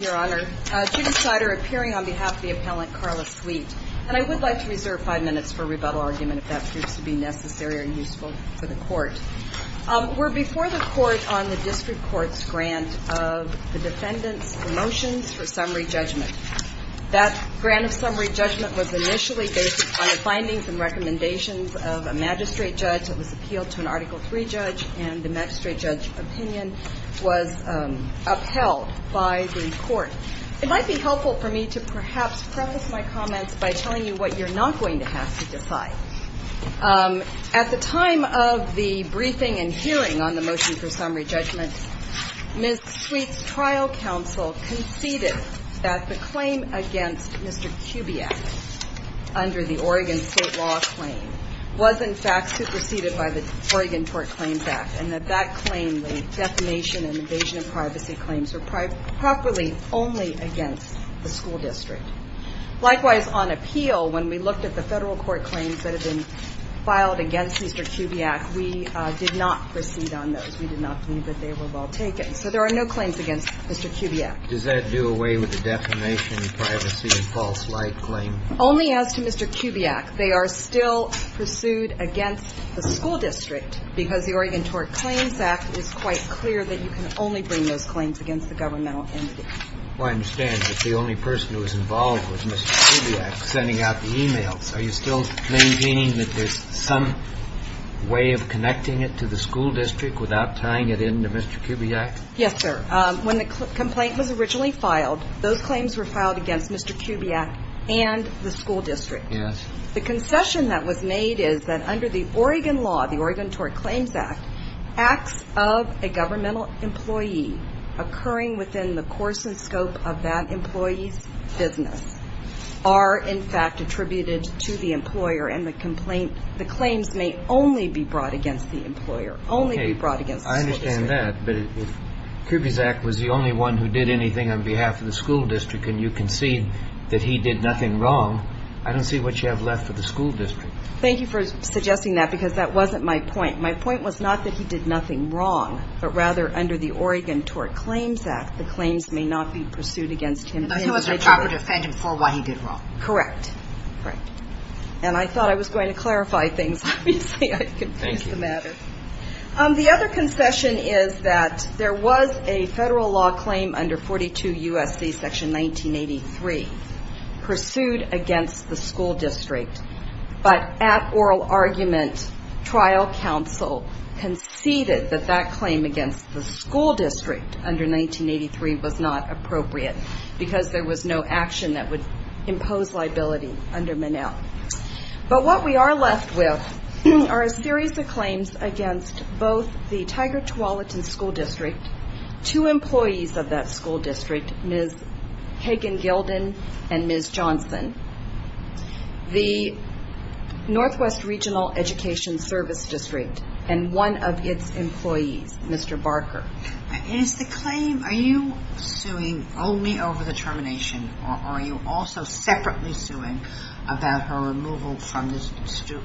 Your Honor, Judith Snyder appearing on behalf of the appellant, Carla Sweet. And I would like to reserve five minutes for rebuttal argument if that proves to be necessary or useful for the Court. We're before the Court on the District Court's grant of the defendant's promotions for summary judgment. That grant of summary judgment was initially based on the findings and recommendations of a magistrate judge that was appealed to an Article III judge and the magistrate judge opinion was upheld by the Court. It might be helpful for me to perhaps preface my comments by telling you what you're not going to have to decide. At the time of the briefing and hearing on the motion for summary judgment, Ms. Sweet's trial counsel conceded that the claim against Mr. Kubiak under the Oregon State law claim was in fact superseded by the Oregon Court Claims Act, and that that claim, the defamation and invasion of privacy claims, were properly only against the school district. Likewise, on appeal, when we looked at the Federal Court claims that had been filed against Mr. Kubiak, we did not proceed on those. We did not believe that they were well taken. So there are no claims against Mr. Kubiak. Does that do away with the defamation, privacy, and false light claim? Only as to Mr. Kubiak, they are still pursued against the school district because the Oregon Court Claims Act is quite clear that you can only bring those claims against the governmental entity. Well, I understand that the only person who was involved was Mr. Kubiak sending out the e-mails. Are you still maintaining that there's some way of connecting it to the school district without tying it in to Mr. Kubiak? Yes, sir. When the complaint was originally filed, those claims were filed against Mr. Kubiak and the school district. Yes. The concession that was made is that under the Oregon law, the Oregon Court Claims Act, acts of a governmental employee occurring within the course and scope of that employee's business are, in fact, attributed to the employer, and the complaint, the claims may only be brought against the employer, only be brought against the school district. I understand that, but if Kubiak was the only one who did anything on behalf of the school district and you concede that he did nothing wrong, I don't see what you have left for the school district. Thank you for suggesting that, because that wasn't my point. My point was not that he did nothing wrong, but rather under the Oregon Court Claims Act, the claims may not be pursued against him. But he was reprobative for what he did wrong. Correct. Correct. And I thought I was going to clarify things. Obviously, I confused the matter. The other concession is that there was a federal law claim under 42 U.S.C. Section 1983 pursued against the school district, but at oral argument, trial counsel conceded that that claim against the school district under 1983 was not appropriate, because there was no action that would impose liability under Manel. But what we are left with are a series of claims against both the Tiger Tualatin School District, two employees of that school district, Ms. Hagen-Gilden and Ms. Johnson, the Northwest Regional Education Service District, and one of its employees, Mr. Barker. Is the claim – are you suing only over the termination, or are you also separately suing about her removal from the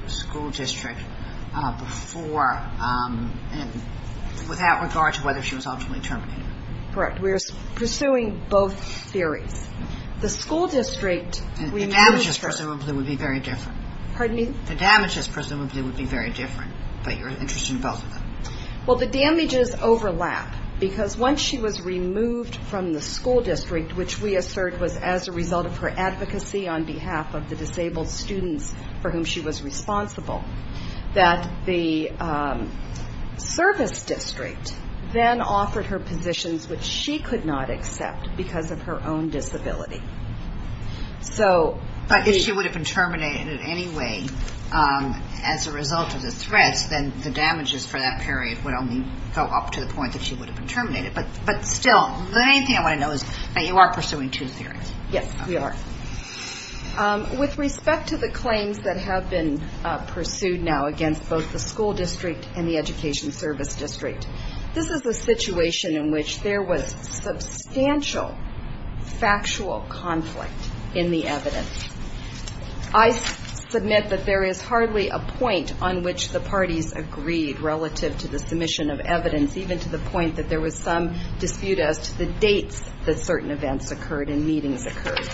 school district before – without regard to whether she was ultimately terminated? Correct. We are pursuing both theories. The school district – The damages presumably would be very different. Pardon me? The damages presumably would be very different, but you're interested in both of them. Well, the damages overlap, because once she was removed from the school district, which we assert was as a result of her advocacy on behalf of the disabled students for whom she was responsible, that the service district then offered her positions which she could not accept because of her own disability. But if she would have been terminated in any way as a result of the threats, then the damages for that period would only go up to the point that she would have been terminated. But still, the main thing I want to know is that you are pursuing two theories. Yes, we are. With respect to the claims that have been pursued now against both the school district and the education service district, this is a situation in which there was substantial factual conflict in the evidence. I submit that there is hardly a point on which the parties agreed relative to the submission of evidence, even to the point that there was some dispute as to the dates that certain events occurred and meetings occurred.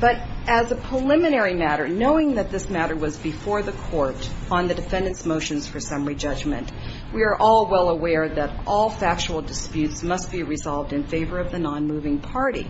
But as a preliminary matter, knowing that this matter was before the court on the defendant's motions for summary judgment, we are all well aware that all factual disputes must be resolved in favor of the nonmoving party.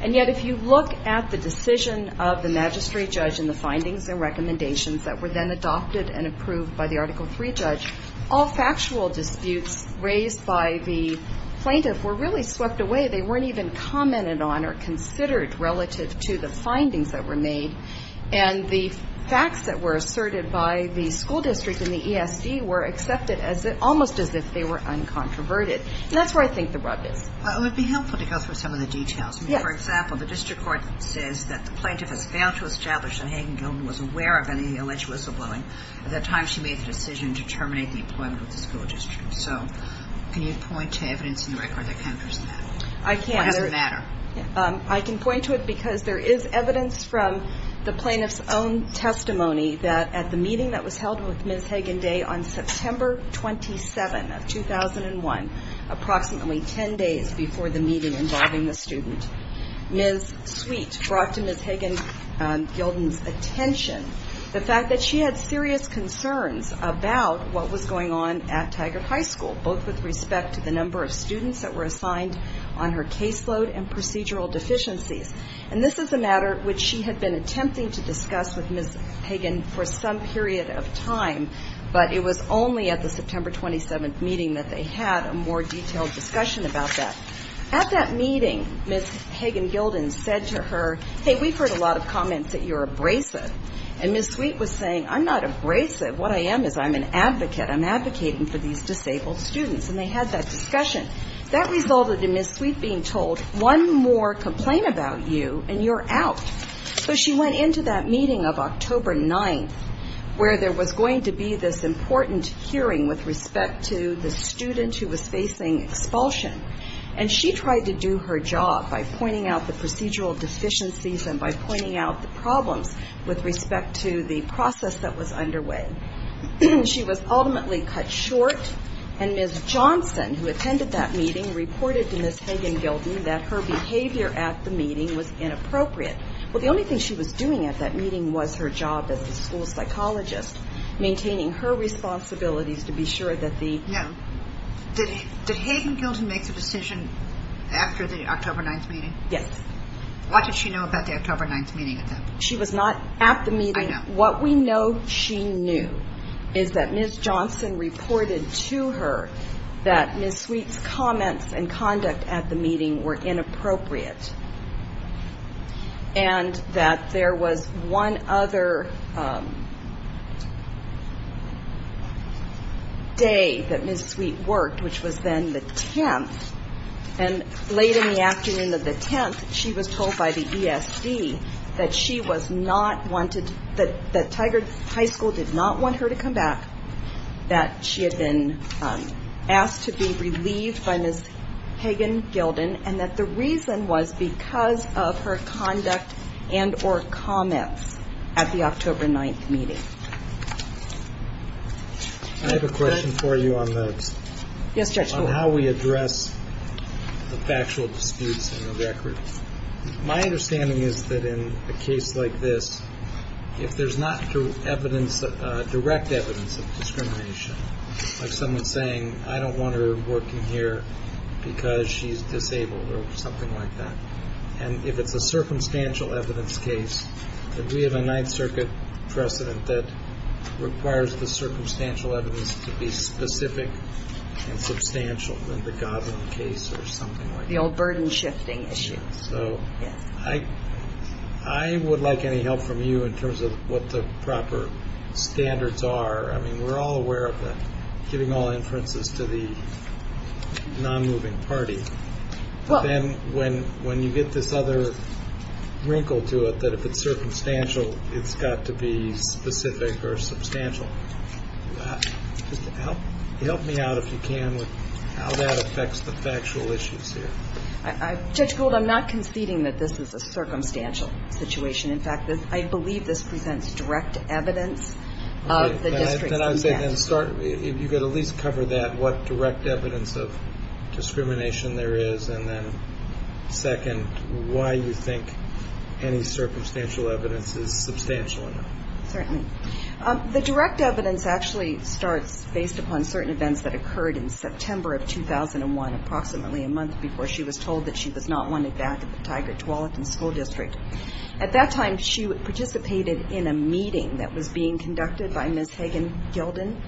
And yet if you look at the decision of the magistrate judge and the findings and recommendations that were then adopted and approved by the Article III judge, all factual disputes raised by the plaintiff were really swept away. They weren't even commented on or considered relative to the findings that were made. And the facts that were asserted by the school district and the ESD were accepted almost as if they were uncontroverted. And that's where I think the rub is. It would be helpful to go through some of the details. Yes. For example, the district court says that the plaintiff has failed to establish that Hagen-Gilten was aware of any alleged whistleblowing at the time she made the decision to terminate the employment with the school district. So can you point to evidence in the record that counters that? I can't. Or does it matter? I can point to it because there is evidence from the plaintiff's own testimony that at the meeting that was held with Ms. Hagen-Day on September 27 of 2001, approximately 10 days before the meeting involving the student, Ms. Sweet brought to Ms. Hagen-Gilten's attention the fact that she had serious concerns about what was going on at Tigard High School, both with respect to the number of students that were assigned on her caseload and procedural deficiencies. And this is a matter which she had been attempting to discuss with Ms. Hagen for some period of time, but it was only at the September 27 meeting that they had a more detailed discussion about that. At that meeting, Ms. Hagen-Gilten said to her, hey, we've heard a lot of comments that you're abrasive. And Ms. Sweet was saying, I'm not abrasive. What I am is I'm an advocate. I'm advocating for these disabled students. And they had that discussion. That resulted in Ms. Sweet being told, one more complaint about you and you're out. So she went into that meeting of October 9th, where there was going to be this important hearing with respect to the student who was facing expulsion, and she tried to do her job by pointing out the procedural deficiencies and by pointing out the problems with respect to the process that was underway. She was ultimately cut short, and Ms. Johnson, who attended that meeting, reported to Ms. Hagen-Gilten that her behavior at the meeting was inappropriate. Well, the only thing she was doing at that meeting was her job as a school psychologist, maintaining her responsibilities to be sure that the No. Did Hagen-Gilten make the decision after the October 9th meeting? Yes. What did she know about the October 9th meeting? She was not at the meeting. I know. What we know she knew is that Ms. Johnson reported to her that Ms. Sweet's comments and conduct at the meeting were inappropriate. And that there was one other day that Ms. Sweet worked, which was then the 10th, and late in the afternoon of the 10th, she was told by the ESD that Tigard High School did not want her to come back, that she had been asked to be relieved by Ms. Hagen-Gilten, and that the reason was because of her conduct and or comments at the October 9th meeting. I have a question for you on how we address the factual disputes in the record. My understanding is that in a case like this, if there's not direct evidence of discrimination, like someone saying, I don't want her working here because she's disabled or something like that, and if it's a circumstantial evidence case, that we have a Ninth Circuit precedent that requires the circumstantial evidence to be specific and substantial in the Godwin case or something like that. The old burden-shifting issue. So I would like any help from you in terms of what the proper standards are. I mean, we're all aware of that, giving all inferences to the non-moving party. But then when you get this other wrinkle to it that if it's circumstantial, it's got to be specific or substantial. Help me out if you can with how that affects the factual issues here. Judge Gould, I'm not conceding that this is a circumstantial situation. In fact, I believe this presents direct evidence of the district's conduct. You've got to at least cover that, what direct evidence of discrimination there is, and then second, why you think any circumstantial evidence is substantial enough. Certainly. The direct evidence actually starts based upon certain events that occurred in September of 2001, approximately a month before she was told that she was not wanted back at the Tigard-Tualatin School District. At that time, she participated in a meeting that was being conducted by Ms. Hagen-Gilden,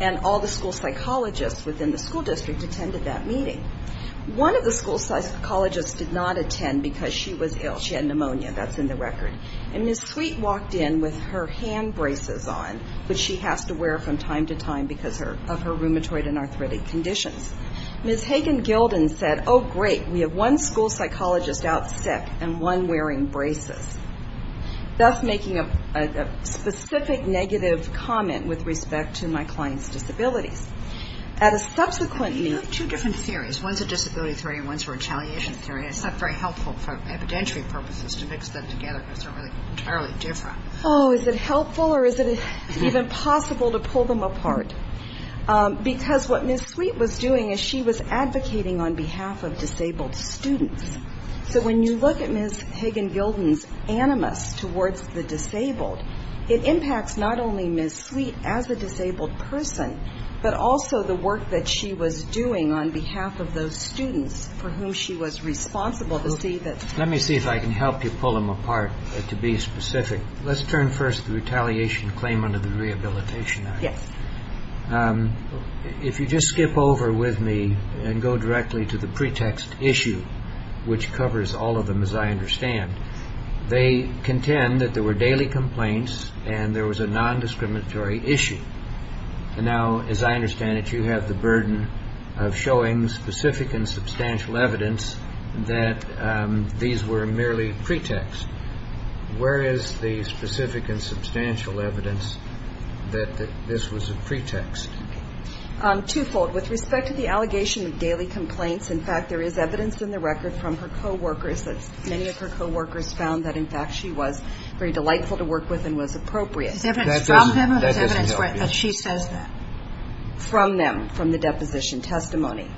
and all the school psychologists within the school district attended that meeting. One of the school psychologists did not attend because she was ill. She had pneumonia. That's in the record. And Ms. Sweet walked in with her hand braces on, which she has to wear from time to time because of her rheumatoid and arthritic conditions. Ms. Hagen-Gilden said, oh, great, we have one school psychologist out sick and one wearing braces, thus making a specific negative comment with respect to my client's disabilities. At a subsequent meeting. You have two different theories. One's a disability theory and one's a retaliation theory. It's not very helpful for evidentiary purposes to mix them together because they're entirely different. Oh, is it helpful or is it even possible to pull them apart? Because what Ms. Sweet was doing is she was advocating on behalf of disabled students. So when you look at Ms. Hagen-Gilden's animus towards the disabled, it impacts not only Ms. Sweet as a disabled person, but also the work that she was doing on behalf of those students for whom she was responsible to see that. Let me see if I can help you pull them apart to be specific. Let's turn first to the retaliation claim under the Rehabilitation Act. Yes. If you just skip over with me and go directly to the pretext issue, which covers all of them, as I understand, they contend that there were daily complaints and there was a non-discriminatory issue. And now, as I understand it, you have the burden of showing specific and substantial evidence that these were merely pretext. Where is the specific and substantial evidence that this was a pretext? Twofold. With respect to the allegation of daily complaints, in fact, there is evidence in the record from her coworkers that many of her coworkers found that, in fact, she was very delightful to work with and was appropriate. Is evidence from them or is evidence that she says that? From them, from the deposition testimony.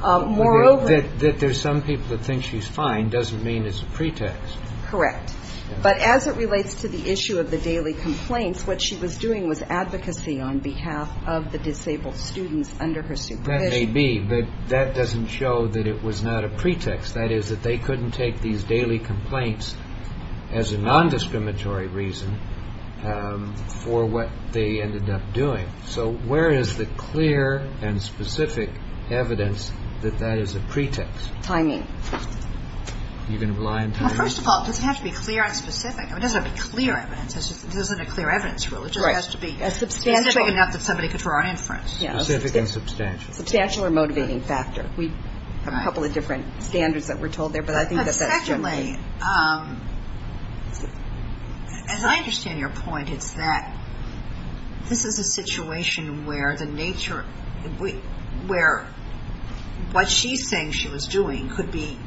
That there's some people that think she's fine doesn't mean it's a pretext. Correct. But as it relates to the issue of the daily complaints, what she was doing was advocacy on behalf of the disabled students under her supervision. That may be, but that doesn't show that it was not a pretext. That is, that they couldn't take these daily complaints as a non-discriminatory reason for what they ended up doing. So where is the clear and specific evidence that that is a pretext? Timing. Are you going to rely on timing? Well, first of all, it doesn't have to be clear and specific. I mean, it doesn't have to be clear evidence. It isn't a clear evidence rule. It just has to be specific enough that somebody could draw an inference. Specific and substantial. Substantial or motivating factor. We have a couple of different standards that we're told there, but I think that that's certainly. As I understand your point, it's that this is a situation where the nature, where what she's saying she was doing could be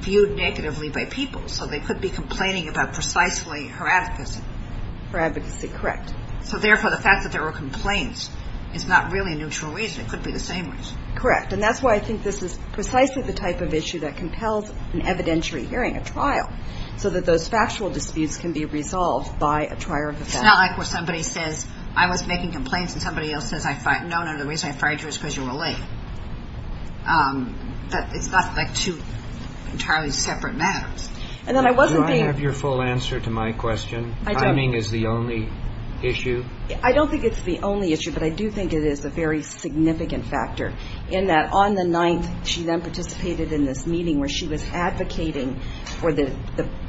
viewed negatively by people. So they could be complaining about precisely her advocacy. Her advocacy, correct. So, therefore, the fact that there were complaints is not really a neutral reason. It could be the same reason. Correct. And that's why I think this is precisely the type of issue that compels an evidentiary hearing, a trial, so that those factual disputes can be resolved by a trial. It's not like where somebody says, I was making complaints and somebody else says, no, no, the reason I fired you is because you were late. It's not like two entirely separate matters. And then I wasn't being. Do I have your full answer to my question? Timing is the only issue? I don't think it's the only issue, but I do think it is a very significant factor, in that on the 9th, she then participated in this meeting where she was advocating for the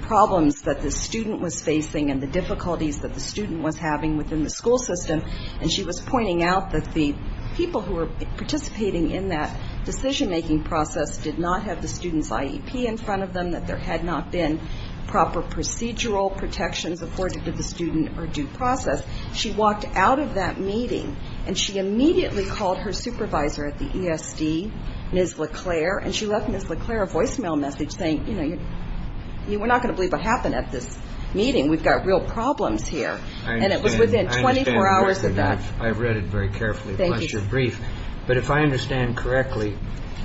problems that the student was facing and the difficulties that the student was having within the school system. And she was pointing out that the people who were participating in that decision-making process did not have the student's IEP in front of them, that there had not been proper procedural protections afforded to the student or due process. She walked out of that meeting and she immediately called her supervisor at the ESD, Ms. LeClaire, and she left Ms. LeClaire a voicemail message saying, you know, we're not going to believe what happened at this meeting. We've got real problems here. And it was within 24 hours of that. I understand the question. I've read it very carefully. Thank you. But if I understand correctly,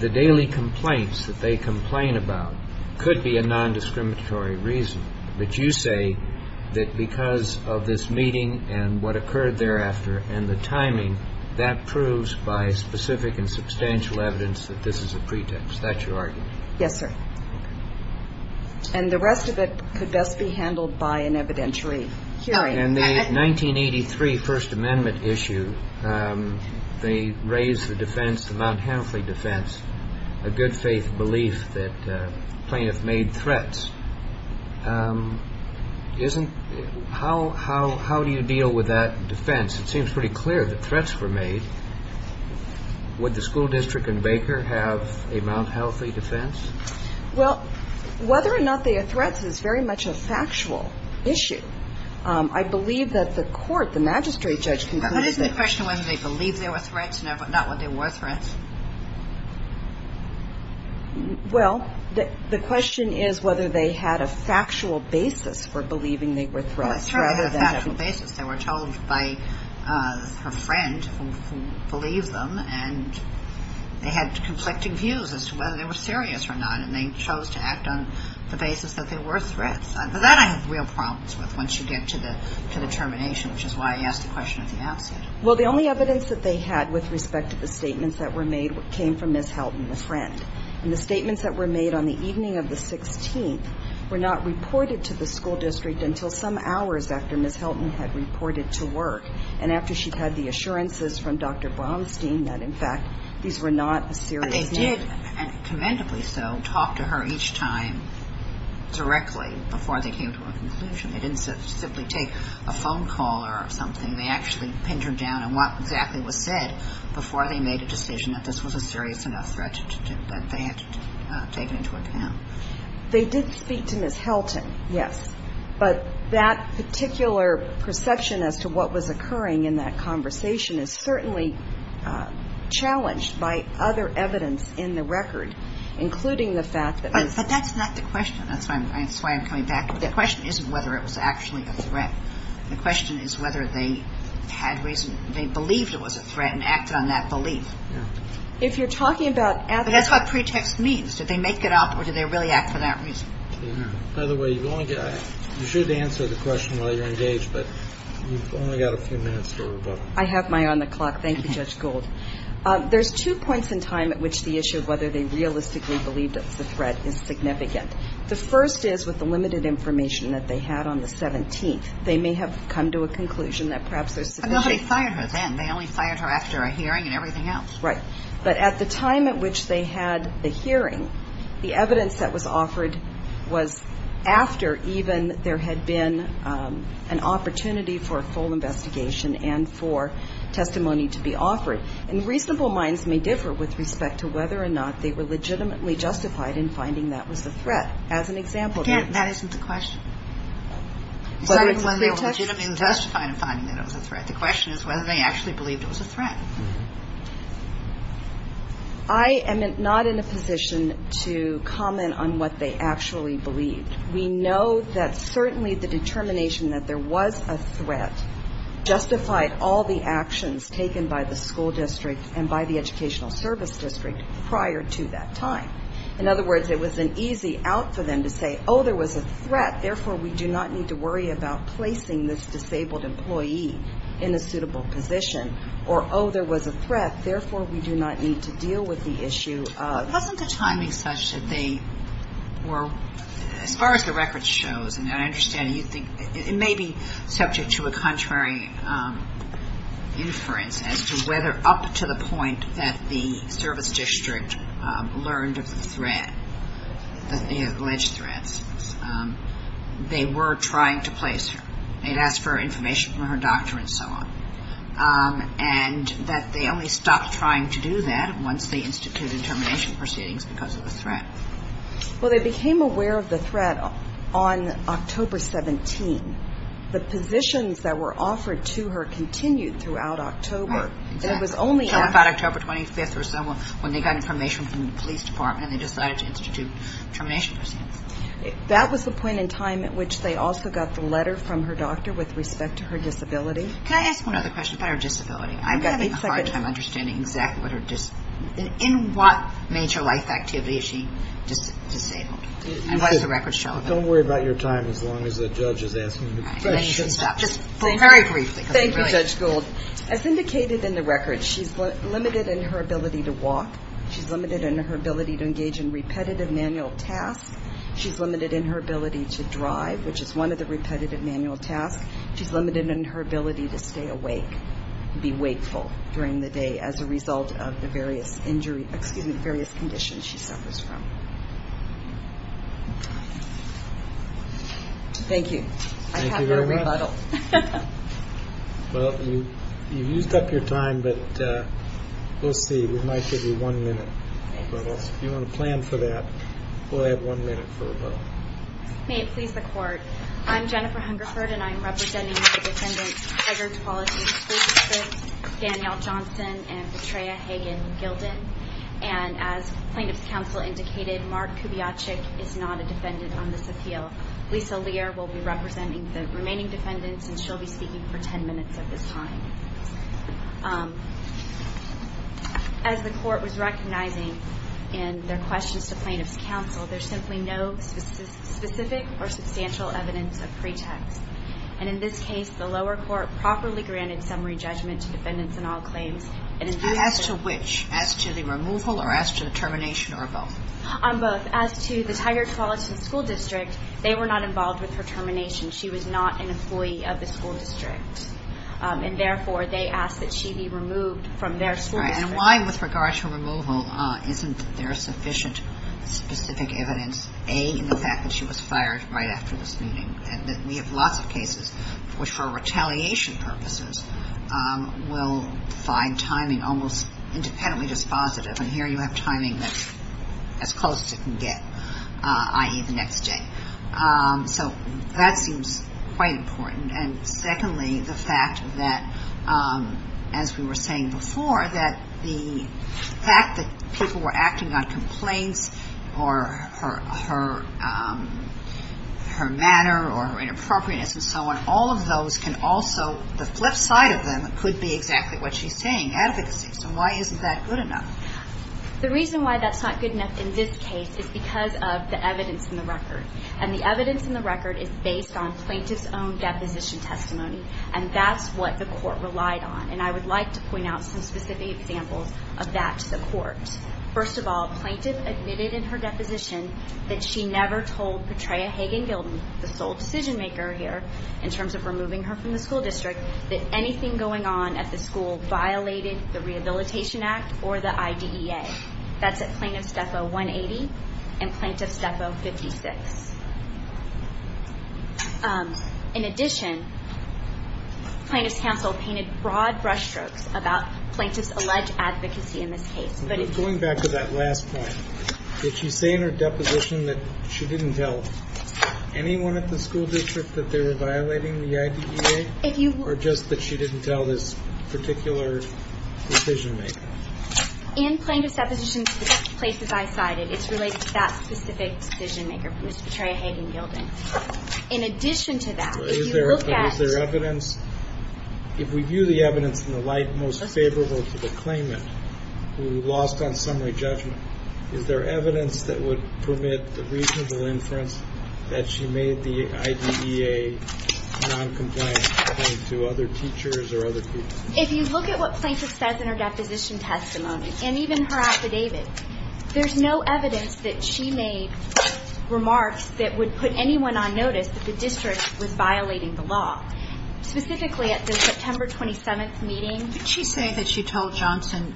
the daily complaints that they complain about could be a nondiscriminatory reason. But you say that because of this meeting and what occurred thereafter and the timing, that proves by specific and substantial evidence that this is a pretext. That's your argument. Yes, sir. And the rest of it could best be handled by an evidentiary hearing. In the 1983 First Amendment issue, they raised the defense, the Mount Hanifly defense, a good faith belief that plaintiffs made threats. How do you deal with that defense? It seems pretty clear that threats were made. Would the school district in Baker have a Mount Hanifly defense? Well, whether or not they are threats is very much a factual issue. I believe that the court, the magistrate judge, But isn't the question whether they believe they were threats and not whether they were threats? Well, the question is whether they had a factual basis for believing they were threats. Well, it's true they had a factual basis. They were told by her friend who believed them, and they had conflicting views as to whether they were serious or not, and they chose to act on the basis that they were threats. That I have real problems with once you get to the termination, which is why I asked the question at the outset. Well, the only evidence that they had with respect to the statements that were made came from Ms. Helton, the friend. And the statements that were made on the evening of the 16th were not reported to the school district until some hours after Ms. Helton had reported to work and after she'd had the assurances from Dr. Bromstein that, in fact, these were not serious matters. They did, commendably so, talk to her each time directly before they came to a conclusion. They didn't simply take a phone call or something. They actually pinned her down on what exactly was said before they made a decision that this was a serious enough threat that they had to take it into account. They did speak to Ms. Helton, yes. But that particular perception as to what was occurring in that conversation is certainly challenged by other evidence in the record, including the fact that Ms. But that's not the question. That's why I'm coming back. The question isn't whether it was actually a threat. The question is whether they had reason, they believed it was a threat and acted on that belief. If you're talking about evidence. That's what pretext means. Did they make it up or did they really act for that reason? By the way, you should answer the question while you're engaged, but you've only got a few minutes to rebuttal. I have my eye on the clock. Thank you, Judge Gould. There's two points in time at which the issue of whether they realistically believed it was a threat is significant. The first is with the limited information that they had on the 17th. They may have come to a conclusion that perhaps there's sufficient. I know how they fired her then. They only fired her after a hearing and everything else. Right. But at the time at which they had the hearing, the evidence that was offered was after even there had been an opportunity for a full investigation and for testimony to be offered. And reasonable minds may differ with respect to whether or not they were legitimately justified in finding that was a threat. As an example. Again, that isn't the question. It's not whether they were legitimately justified in finding that it was a threat. The question is whether they actually believed it was a threat. I am not in a position to comment on what they actually believed. We know that certainly the determination that there was a threat justified all the actions taken by the school district and by the educational service district prior to that time. In other words, it was an easy out for them to say, oh, there was a threat, therefore, we do not need to worry about placing this disabled employee in a suitable position. Or, oh, there was a threat, therefore, we do not need to deal with the issue of. But wasn't the timing such that they were, as far as the record shows, and I understand you think it may be subject to a contrary inference as to whether up to the point that the service district learned of the threat, alleged threats, they were trying to place her. They had asked for information from her doctor and so on. And that they only stopped trying to do that once they instituted termination proceedings because of the threat. Well, they became aware of the threat on October 17. The positions that were offered to her continued throughout October. Exactly. It was only after. So about October 25 or so when they got information from the police department and they decided to institute termination proceedings. That was the point in time at which they also got the letter from her doctor with respect to her disability. Can I ask one other question about her disability? I'm having a hard time understanding exactly what her disability is. In what major life activity is she disabled? And what does the record show of it? Don't worry about your time as long as the judge is asking the question. Then you can stop. Just very briefly. Thank you, Judge Gould. As indicated in the record, she's limited in her ability to walk. She's limited in her ability to engage in repetitive manual tasks. She's limited in her ability to drive, which is one of the repetitive manual tasks. She's limited in her ability to stay awake and be wakeful during the day as a result of the various conditions she suffers from. Thank you. Thank you very much. I have no rebuttal. Well, you've used up your time, but we'll see. We might give you one minute. If you want to plan for that, we'll have one minute for rebuttal. May it please the Court. I'm Jennifer Hungerford, and I'm representing the defendants Eger, Tualatin, Schlesinger, Danielle Johnson, and Betraya Hagan-Gilden. And as plaintiff's counsel indicated, Mark Kubiacek is not a defendant on this appeal. Lisa Lear will be representing the remaining defendants, and she'll be speaking for ten minutes at this time. As the Court was recognizing in their questions to plaintiff's counsel, there's simply no specific or substantial evidence of pretext. And in this case, the lower court properly granted summary judgment to defendants in all claims. As to which? As to the removal or as to the termination or both? On both. As to the Tigard-Tualatin school district, they were not involved with her termination. She was not an employee of the school district, and therefore they asked that she be removed from their school district. And why, with regard to removal, isn't there sufficient specific evidence, A, in the fact that she was fired right after this meeting, and that we have lots of cases which, for retaliation purposes, will find timing almost independently dispositive. And here you have timing that's as close as it can get, i.e., the next day. So that seems quite important. And secondly, the fact that, as we were saying before, that the fact that people were acting on complaints or her manner or her inappropriateness and so on, all of those can also, the flip side of them could be exactly what she's saying, advocacy. So why isn't that good enough? The reason why that's not good enough in this case is because of the evidence in the record. And the evidence in the record is based on plaintiff's own deposition testimony, and that's what the court relied on. And I would like to point out some specific examples of that to the court. First of all, plaintiff admitted in her deposition that she never told Petraea Hagen-Gilden, the sole decision-maker here, in terms of removing her from the school district, that anything going on at the school violated the Rehabilitation Act or the IDEA. That's at Plaintiff's Depot 180 and Plaintiff's Depot 56. In addition, plaintiff's counsel painted broad brushstrokes about plaintiff's alleged advocacy in this case. Going back to that last point, did she say in her deposition that she didn't tell anyone at the school district that they were violating the IDEA, or just that she didn't tell this particular decision-maker? In plaintiff's deposition to the places I cited, it's related to that specific decision-maker, Ms. Petraea Hagen-Gilden. In addition to that, if you look at the evidence, if we view the evidence in the light most favorable to the claimant who lost on summary judgment, is there evidence that would permit the reasonable inference that she made the IDEA noncompliant to other teachers or other people? If you look at what plaintiff says in her deposition testimony, and even her affidavit, there's no evidence that she made remarks that would put anyone on notice that the district was violating the law, specifically at the September 27th meeting. Did she say that she told Johnson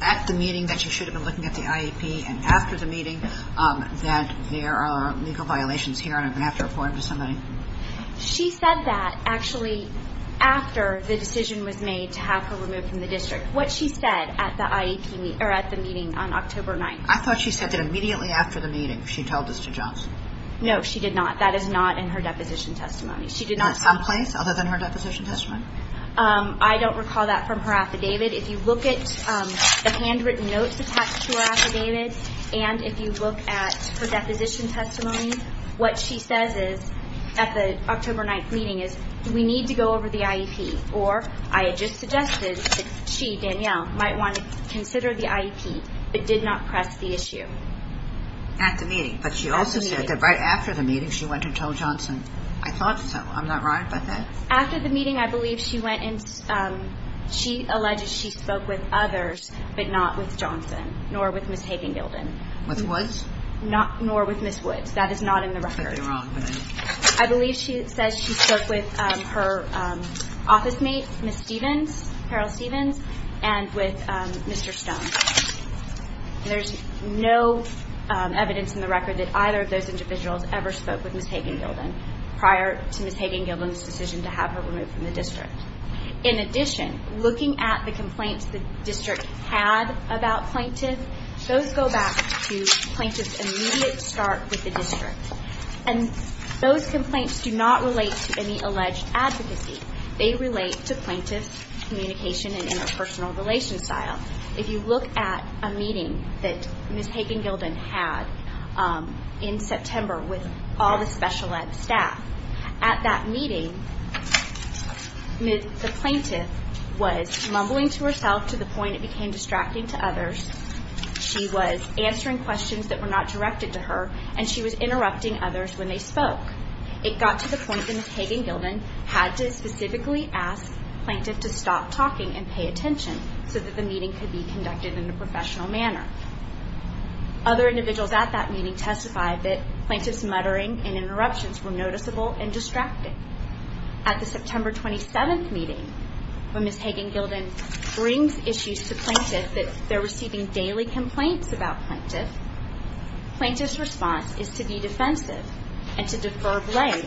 at the meeting that she should have been looking at the IEP, and after the meeting that there are legal violations here and I'm going to have to report them to somebody? She said that, actually, after the decision was made to have her removed from the district. What she said at the meeting on October 9th. I thought she said that immediately after the meeting she told this to Johnson. No, she did not. That is not in her deposition testimony. Not someplace other than her deposition testimony? I don't recall that from her affidavit. If you look at the handwritten notes attached to her affidavit, and if you look at her deposition testimony, what she says at the October 9th meeting is, we need to go over the IEP, or I had just suggested that she, Danielle, might want to consider the IEP, but did not press the issue. At the meeting? At the meeting. But she also said that right after the meeting she went and told Johnson. I thought so. I'm not right about that. After the meeting, I believe she alleged she spoke with others, but not with Johnson, nor with Ms. Hagen-Gilden. With Woods? Nor with Ms. Woods. That is not in the record. You're wrong. I believe she says she spoke with her office mate, Ms. Stephens, Harold Stephens, and with Mr. Stone. There's no evidence in the record that either of those individuals ever spoke with Ms. Hagen-Gilden prior to Ms. Hagen-Gilden's decision to have her removed from the district. In addition, looking at the complaints the district had about Plaintiff, those go back to Plaintiff's immediate start with the district. And those complaints do not relate to any alleged advocacy. They relate to Plaintiff's communication and interpersonal relationship. If you look at a meeting that Ms. Hagen-Gilden had in September with all the special ed staff, at that meeting the Plaintiff was mumbling to herself to the point it became distracting to others, she was answering questions that were not directed to her, and she was interrupting others when they spoke. It got to the point that Ms. Hagen-Gilden had to specifically ask Plaintiff to stop talking and pay attention so that the meeting could be conducted in a professional manner. Other individuals at that meeting testified that Plaintiff's muttering At the September 27th meeting, when Ms. Hagen-Gilden brings issues to Plaintiff that they're receiving daily complaints about Plaintiff, Plaintiff's response is to be defensive and to defer blame.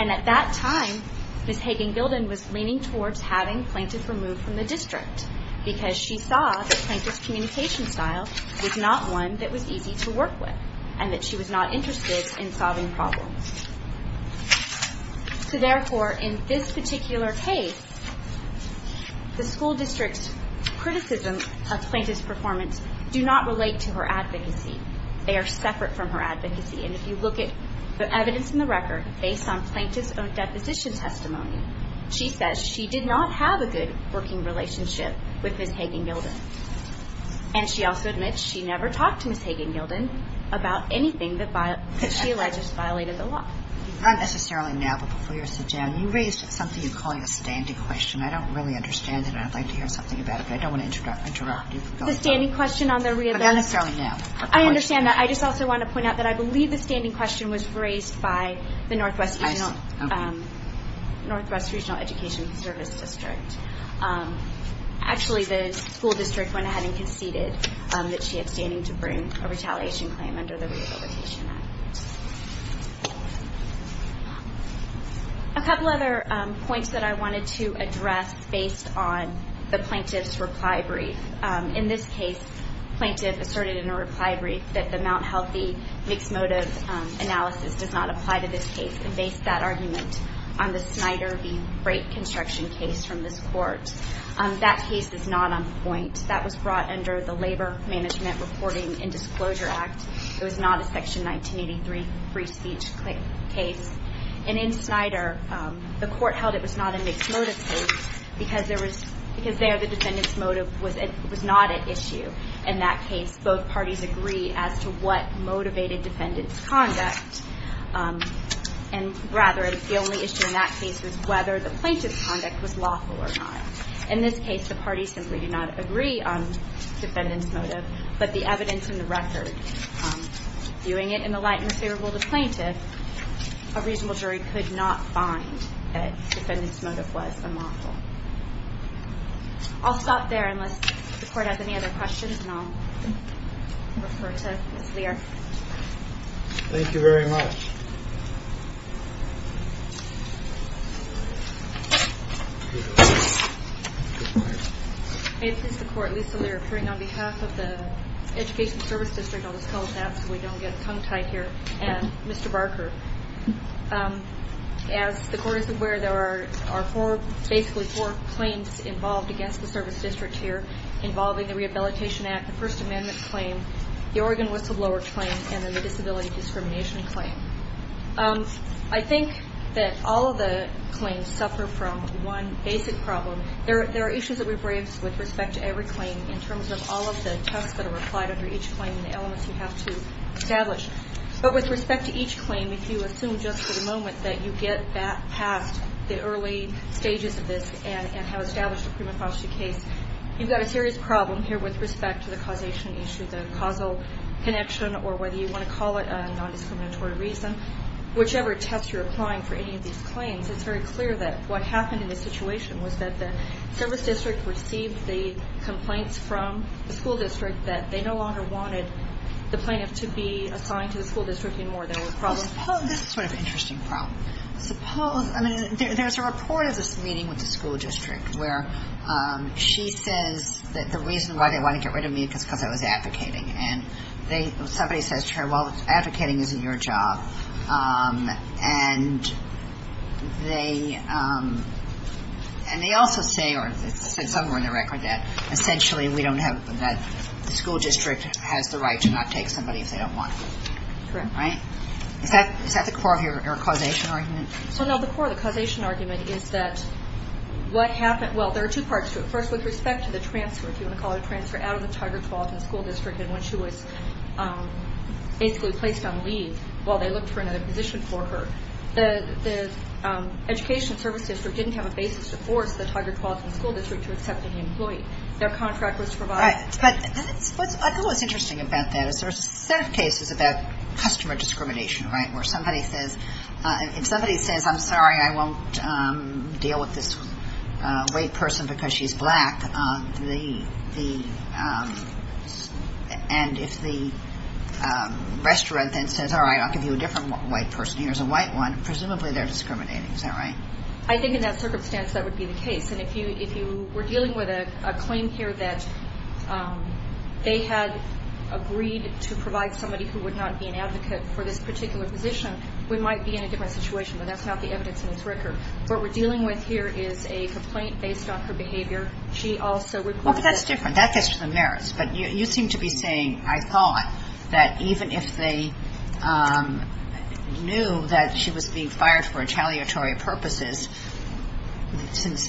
And at that time, Ms. Hagen-Gilden was leaning towards having Plaintiff removed from the district because she saw that Plaintiff's communication style was not one that was easy to work with and that she was not interested in solving problems. So therefore, in this particular case, the school district's criticism of Plaintiff's performance do not relate to her advocacy. They are separate from her advocacy. And if you look at the evidence in the record, based on Plaintiff's own deposition testimony, she says she did not have a good working relationship with Ms. Hagen-Gilden. And she also admits she never talked to Ms. Hagen-Gilden about anything that she alleges violated the law. Not necessarily now, but before you were sent down, you raised something you call a standing question. I don't really understand it, and I'd like to hear something about it, but I don't want to interrupt you. The standing question on the re-event. Not necessarily now. I understand that. I just also want to point out that I believe the standing question was raised by the Northwest Regional Education Service District. Actually, the school district went ahead and conceded that she had standing to bring a retaliation claim under the Rehabilitation Act. A couple other points that I wanted to address based on the Plaintiff's reply brief. In this case, Plaintiff asserted in a reply brief that the Mt. Healthy mixed motive analysis does not apply to this case, and based that argument on the Snyder v. Brake construction case from this court. That case is not on point. That was brought under the Labor Management Reporting and Disclosure Act. It was not a Section 1983 free speech case. In Snyder, the court held it was not a mixed motive case because there the defendant's motive was not at issue in that case. Both parties agree as to what motivated defendant's conduct. Rather, the only issue in that case was whether the plaintiff's conduct was lawful or not. In this case, the parties simply did not agree on defendant's motive, but the evidence in the record viewing it in the light and favorable to Plaintiff, a reasonable jury could not find that defendant's motive was unlawful. I'll stop there unless the court has any other questions, and I'll refer to Ms. Lear. Thank you very much. May it please the court, Lisa Lear, appearing on behalf of the Education Service District. I'll just hold that so we don't get tongue-tied here. Mr. Barker, as the court is aware, there are basically four claims involved against the service district here involving the Rehabilitation Act, the First Amendment claim, the Oregon whistleblower claim, and then the disability discrimination claim. I think that all of the claims suffer from one basic problem. There are issues that we've raised with respect to every claim in terms of all of the tests that are applied under each claim and the elements you have to establish. But with respect to each claim, if you assume just for the moment that you get past the early stages of this and have established a prima facie case, you've got a serious problem here with respect to the causation issue, the causal connection or whether you want to call it a nondiscriminatory reason. Whichever test you're applying for any of these claims, it's very clear that what happened in this situation was that the service district received the complaints from the school district that they no longer wanted the plaintiff to be assigned to the school district even more than the problem. That's sort of an interesting problem. Suppose, I mean, there's a report of this meeting with the school district where she says that the reason why they want to get rid of me is because I was advocating. And somebody says to her, well, advocating isn't your job. And they also say, or it's said somewhere in the record, that essentially we don't have that the school district has the right to not take somebody if they don't want to. Correct. Right? Is that the core of your causation argument? Well, no, the core of the causation argument is that what happened, well, there are two parts to it. First, with respect to the transfer, if you want to call it a transfer, out of the Tiger 12th in the school district and when she was basically placed on leave while they looked for another position for her, the education service district didn't have a basis to force the Tiger 12th in the school district to accept any employee. Their contract was to provide that. Right. But I think what's interesting about that is there's a set of cases about customer discrimination, right, where if somebody says, I'm sorry, I won't deal with this white person because she's black, and if the restaurant then says, all right, I'll give you a different white person. Here's a white one. Presumably they're discriminating. Is that right? I think in that circumstance that would be the case. And if you were dealing with a claim here that they had agreed to provide somebody who would not be an advocate for this particular position, we might be in a different situation, but that's not the evidence in this record. What we're dealing with here is a complaint based on her behavior. She also reported to the school district. Well, but that's different. That gets to the merits. But you seem to be saying, I thought, that even if they knew that she was being fired for retaliatory purposes, since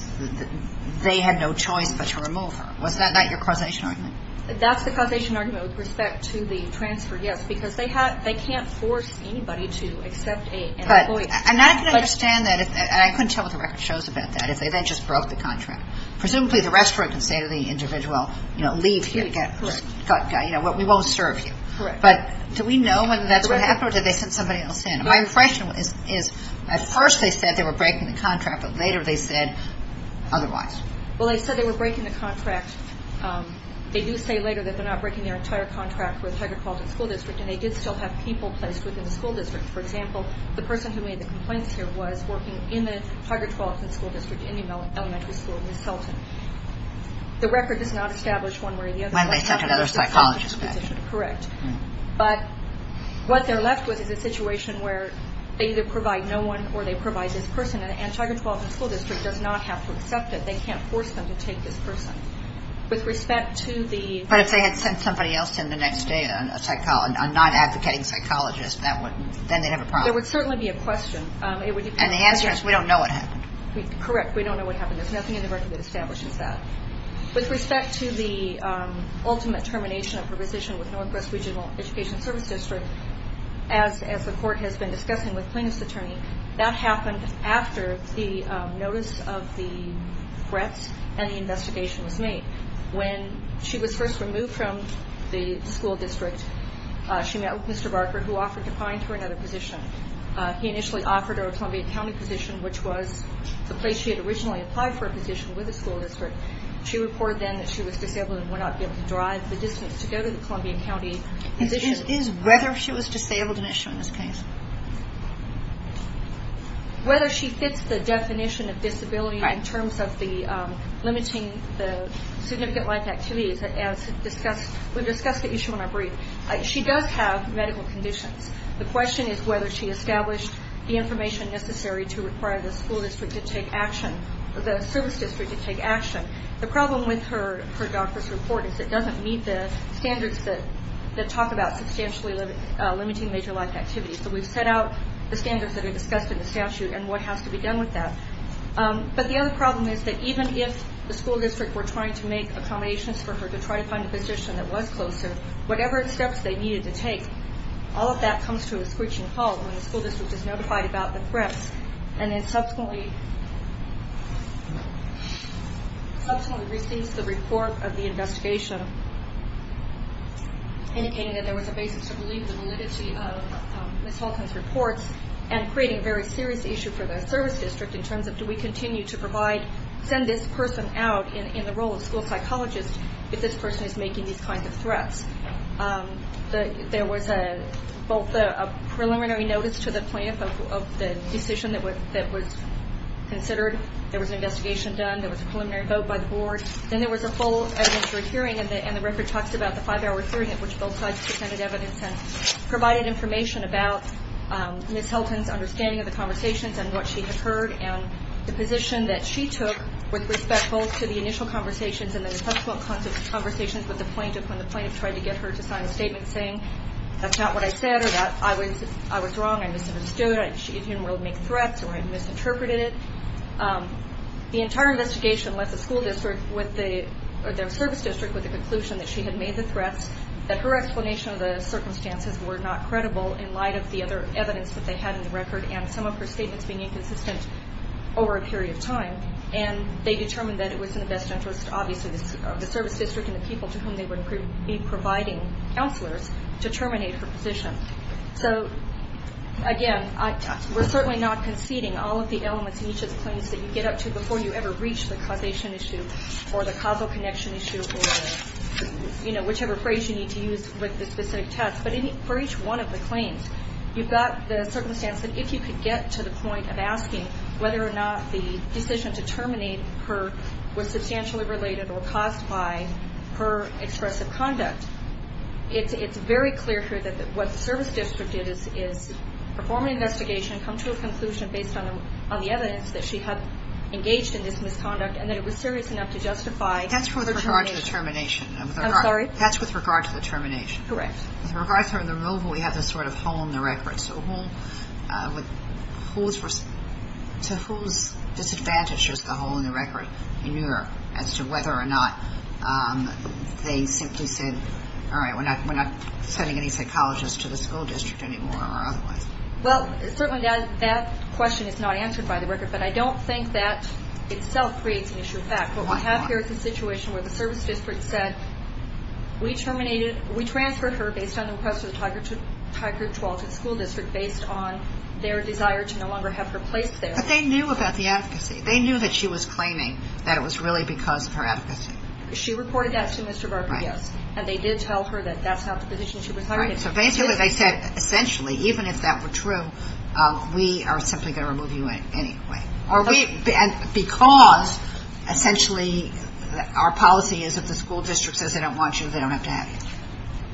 they had no choice but to remove her. Was that not your causation argument? That's the causation argument with respect to the transfer, yes, because they can't force anybody to accept an employee. But I'm not going to understand that, and I couldn't tell what the record shows about that, if they then just broke the contract. Presumably the restaurant can say to the individual, you know, leave here. Correct. We won't serve you. Correct. But do we know whether that's what happened or did they send somebody else in? My impression is at first they said they were breaking the contract, but later they said otherwise. Well, they said they were breaking the contract. They do say later that they're not breaking their entire contract with Tigard-Tualatin School District, and they did still have people placed within the school district. For example, the person who made the complaints here was working in the Tigard-Tualatin School District, Indian Elementary School, Ms. Selton. The record does not establish one way or the other. When they sent another psychologist back. Correct. But what they're left with is a situation where they either provide no one or they provide this person, and Tigard-Tualatin School District does not have to accept it. They can't force them to take this person. With respect to the- But if they had sent somebody else in the next day, a non-advocating psychologist, then they'd have a problem. It would certainly be a question. And the answer is we don't know what happened. Correct. We don't know what happened. There's nothing in the record that establishes that. With respect to the ultimate termination of her position with Northwest Regional Education Service District, as the court has been discussing with plaintiff's attorney, that happened after the notice of the threats and the investigation was made. When she was first removed from the school district, she met with Mr. Barker, who offered to find her another position. He initially offered her a Columbia County position, which was the place she had originally applied for a position with the school district. She reported then that she was disabled and would not be able to drive the distance to go to the Columbia County position. Is whether she was disabled an issue in this case? Whether she fits the definition of disability in terms of limiting the significant life activities, as we discussed the issue in our brief, she does have medical conditions. The question is whether she established the information necessary to require the school district to take action, the service district to take action. The problem with her doctor's report is it doesn't meet the standards that talk about substantially limiting major life activities. So we've set out the standards that are discussed in the statute and what has to be done with that. But the other problem is that even if the school district were trying to make accommodations for her to try to find a position that was closer, whatever steps they needed to take, all of that comes to a screeching halt when the school district is notified about the threats and then subsequently receives the report of the investigation, indicating that there was a basis to believe the validity of Ms. Holcomb's reports and creating a very serious issue for the service district in terms of do we continue to send this person out in the role of school psychologist if this person is making these kinds of threats. There was both a preliminary notice to the plaintiff of the decision that was considered. There was an investigation done. There was a preliminary vote by the board. Then there was a full administrative hearing, and the record talks about the five-hour hearing at which both sides presented evidence and provided information about Ms. Helton's understanding of the conversations and what she had heard and the position that she took with respect both to the initial conversations and the subsequent conversations with the plaintiff when the plaintiff tried to get her to sign a statement saying that's not what I said or that I was wrong, I misunderstood, she didn't really make threats, or I misinterpreted it. The entire investigation left the school district or the service district with the conclusion that she had made the threats, that her explanation of the circumstances were not credible in light of the other evidence that they had in the record and some of her statements being inconsistent over a period of time, and they determined that it was in the best interest, obviously, of the service district and the people to whom they would be providing counselors to terminate her position. So, again, we're certainly not conceding all of the elements in each of the claims that you get up to before you ever reach the causation issue or the causal connection issue or, you know, whichever phrase you need to use with the specific text. But for each one of the claims, you've got the circumstance that if you could get to the point of asking whether or not the decision to terminate her was substantially related or caused by her expressive conduct. It's very clear here that what the service district did is perform an investigation, come to a conclusion based on the evidence that she had engaged in this misconduct, and that it was serious enough to justify her termination. That's with regard to the termination. I'm sorry? That's with regard to the termination. Correct. With regard to her removal, we have this sort of hole in the record. So to whose disadvantage is the hole in the record in New York as to whether or not they simply said, all right, we're not sending any psychologists to the school district anymore or otherwise? Well, certainly that question is not answered by the record, but I don't think that itself creates an issue of fact. Why not? What we have here is a situation where the service district said, we transferred her based on the request of the Tigard-Tualatin School District based on their desire to no longer have her placed there. But they knew about the advocacy. They knew that she was claiming that it was really because of her advocacy. She reported that to Mr. Garper, yes. And they did tell her that that's not the position she was hiring. So basically they said, essentially, even if that were true, we are simply going to remove you anyway. Because, essentially, our policy is if the school district says they don't want you, they don't have to have you.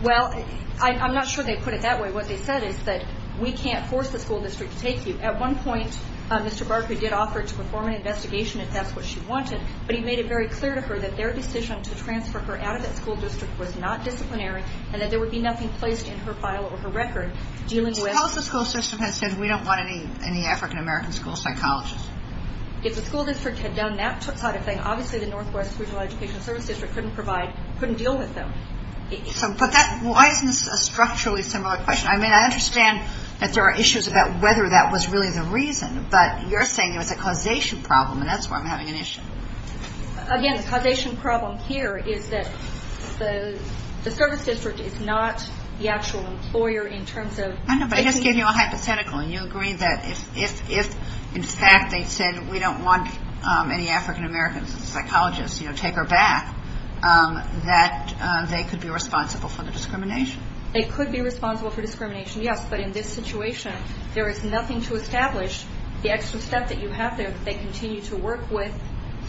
Well, I'm not sure they put it that way. What they said is that we can't force the school district to take you. At one point, Mr. Garper did offer to perform an investigation if that's what she wanted, but he made it very clear to her that their decision to transfer her out of that school district was not disciplinary and that there would be nothing placed in her file or her record dealing with – Because the school system has said we don't want any African-American school psychologists. If the school district had done that sort of thing, obviously the Northwest Regional Education Service District couldn't provide – couldn't deal with them. But that – why isn't this a structurally similar question? I mean, I understand that there are issues about whether that was really the reason, but you're saying it was a causation problem, and that's where I'm having an issue. Again, the causation problem here is that the service district is not the actual employer in terms of – I know, but I just gave you a hypothetical, and you agree that if in fact they said we don't want any African-Americans psychologists to take her back, that they could be responsible for the discrimination. They could be responsible for discrimination, yes. But in this situation, there is nothing to establish the extra step that you have there that they continue to work with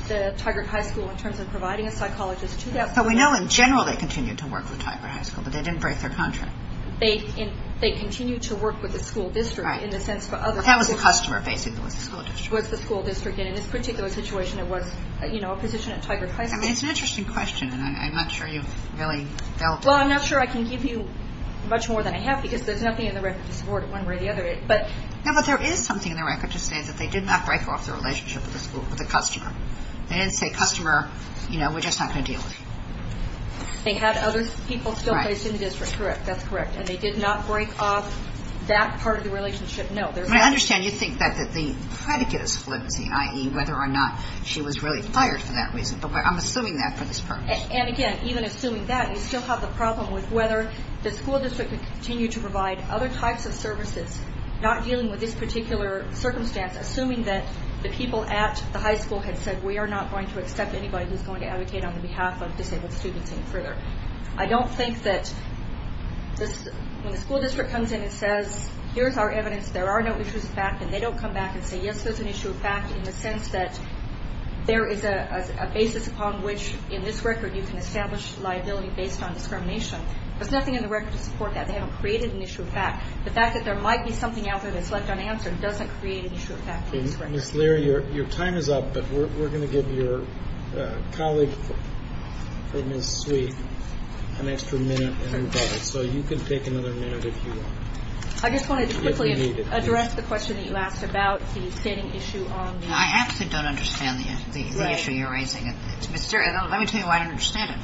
the Tigard High School in terms of providing a psychologist to that school. So we know in general they continue to work with Tigard High School, but they didn't break their contract. They continue to work with the school district in the sense that other – Well, that was the customer, basically, was the school district. Was the school district, and in this particular situation, it was a position at Tigard High School. I mean, it's an interesting question, and I'm not sure you've really dealt with it. Well, I'm not sure I can give you much more than I have, because there's nothing in the record to support it one way or the other, but – No, but there is something in the record to say that they did not break off the relationship with the school, with the customer. They didn't say, customer, you know, we're just not going to deal with you. They had other people still placed in the district. Correct, that's correct. And they did not break off that part of the relationship, no. I understand you think that the predicate is flimsy, i.e., whether or not she was really fired for that reason, but I'm assuming that for this purpose. And again, even assuming that, you still have the problem with whether the school district could continue to provide other types of services, not dealing with this particular circumstance, assuming that the people at the high school had said, we are not going to accept anybody who's going to advocate on behalf of disabled students any further. I don't think that when the school district comes in and says, here's our evidence, there are no issues of fact, and they don't come back and say, yes, there's an issue of fact, in the sense that there is a basis upon which, in this record, you can establish liability based on discrimination. There's nothing in the record to support that. They haven't created an issue of fact. The fact that there might be something out there that's left unanswered doesn't create an issue of fact. Ms. Leary, your time is up, but we're going to give your colleague, Ms. Sweet, an extra minute. So you can take another minute if you want. I just wanted to quickly address the question that you asked about the standing issue on the ADA. I actually don't understand the issue you're raising. Let me tell you why I don't understand it.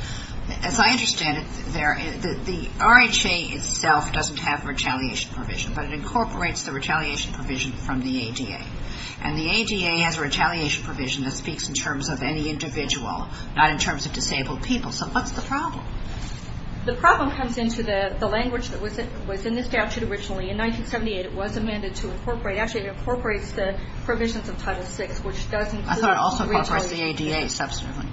As I understand it, the RHA itself doesn't have retaliation provision, but it incorporates the retaliation provision from the ADA, and the ADA has a retaliation provision that speaks in terms of any individual, not in terms of disabled people. So what's the problem? The problem comes into the language that was in the statute originally. In 1978, it was amended to incorporate. Actually, it incorporates the provisions of Title VI, which does include retaliation. I thought it also incorporates the ADA, substantively.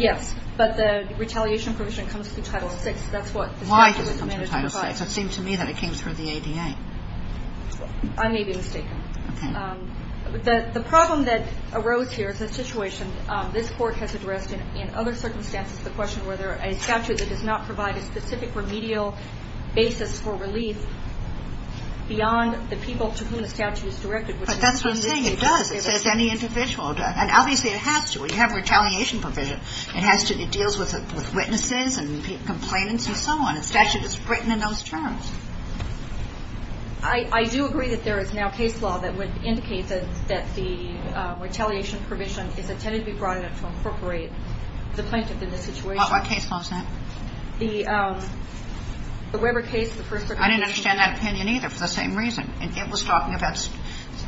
Yes, but the retaliation provision comes through Title VI. Why does it come through Title VI? It seems to me that it came through the ADA. I may be mistaken. Okay. The problem that arose here is the situation this Court has addressed in other circumstances, the question whether a statute that does not provide a specific remedial basis for relief beyond the people to whom the statute is directed. But that's what I'm saying. It does. It says any individual. And obviously it has to. We have retaliation provision. It deals with witnesses and complainants and so on. The statute is written in those terms. I do agree that there is now case law that would indicate that the retaliation provision is intended to be broad enough to incorporate the plaintiff in this situation. What case law is that? The Weber case, the first record case. I didn't understand that opinion either for the same reason. It was talking about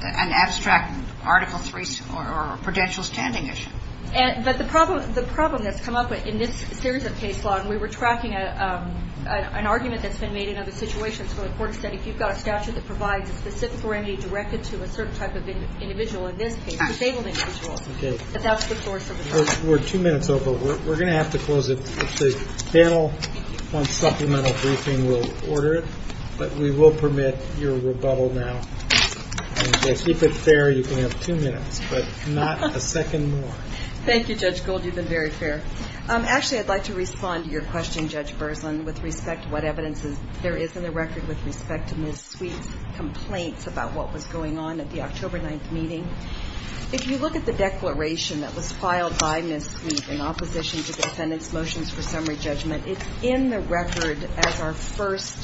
an abstract Article III or prudential standing issue. But the problem that's come up in this series of case law, and we were tracking an argument that's been made in other situations where the Court said if you've got a statute that provides a specific remedy directed to a certain type of individual in this case, a disabled individual, that that's the source of the problem. We're two minutes over. We're going to have to close it. The panel wants supplemental briefing. We'll order it. But we will permit your rebuttal now. If you keep it fair, you can have two minutes, but not a second more. Thank you, Judge Gold. You've been very fair. Actually, I'd like to respond to your question, Judge Berzlin, with respect to what evidence there is in the record with respect to Ms. Sweet's complaints about what was going on at the October 9th meeting. If you look at the declaration that was filed by Ms. Sweet in opposition to the defendant's motions for summary judgment, it's in the record as our first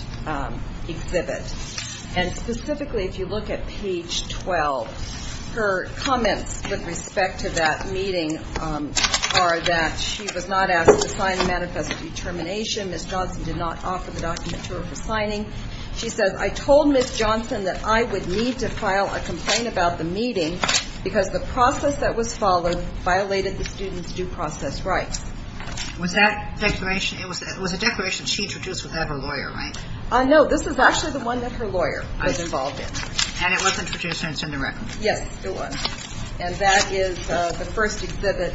exhibit. And specifically, if you look at page 12, her comments with respect to that meeting are that she was not asked to sign the manifesto of determination. Ms. Johnson did not offer the document to her for signing. She says, I told Ms. Johnson that I would need to file a complaint about the meeting because the process that was followed violated the student's due process rights. Was that declaration, it was a declaration she introduced without her lawyer, right? No, this is actually the one that her lawyer was involved in. And it was introduced in the record. Yes, it was. And that is the first exhibit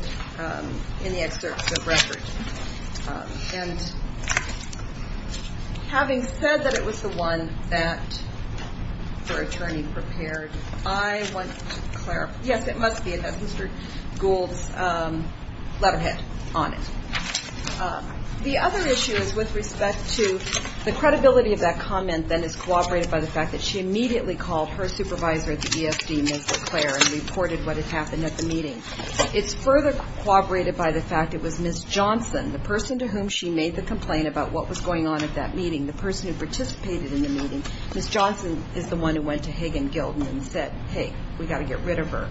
in the excerpt of the record. And having said that it was the one that her attorney prepared, I want to clarify, yes, it must be. It has Mr. Gould's letterhead on it. The other issue is with respect to the credibility of that comment that is corroborated by the fact that she immediately called her supervisor at the ESD, Ms. LeClaire, and reported what had happened at the meeting. It's further corroborated by the fact it was Ms. Johnson, the person to whom she made the complaint about what was going on at that meeting, the person who participated in the meeting. Ms. Johnson is the one who went to Hagen-Gilden and said, hey, we've got to get rid of her.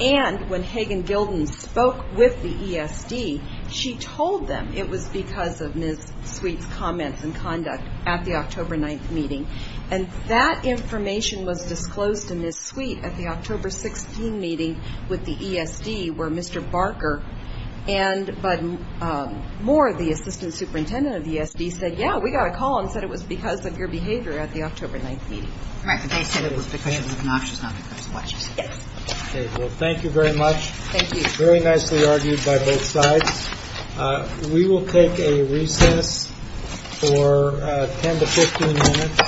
And when Hagen-Gilden spoke with the ESD, she told them it was because of Ms. Sweet's comments and conduct at the October 9th meeting. And that information was disclosed to Ms. Sweet at the October 16th meeting with the ESD, where Mr. Barker and more of the assistant superintendent of the ESD said, yeah, we got a call and said it was because of your behavior at the October 9th meeting. All right. They said it was because of the connoisseurs, not because of what she said. Okay. Well, thank you very much. Thank you. Very nicely argued by both sides. We will take a recess for 10 to 15 minutes.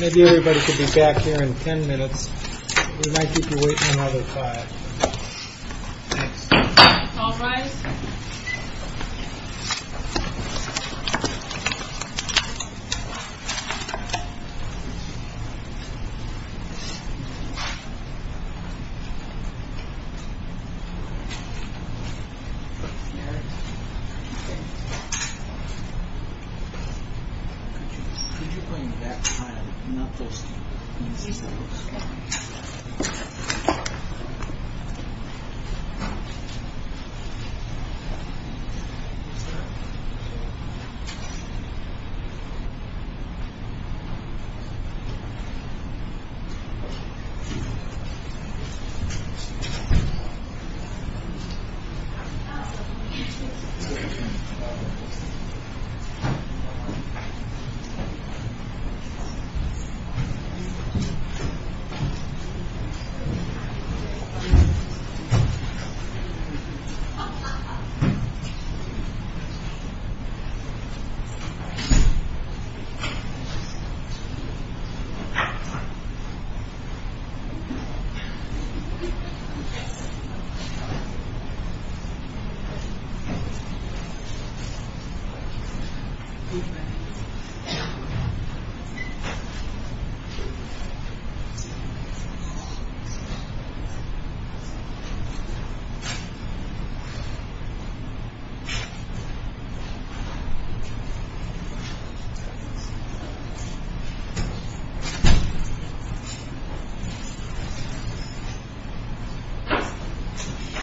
Maybe everybody could be back here in 10 minutes. We might need to wait another five. All right. Thank you. Thank you. Thank you.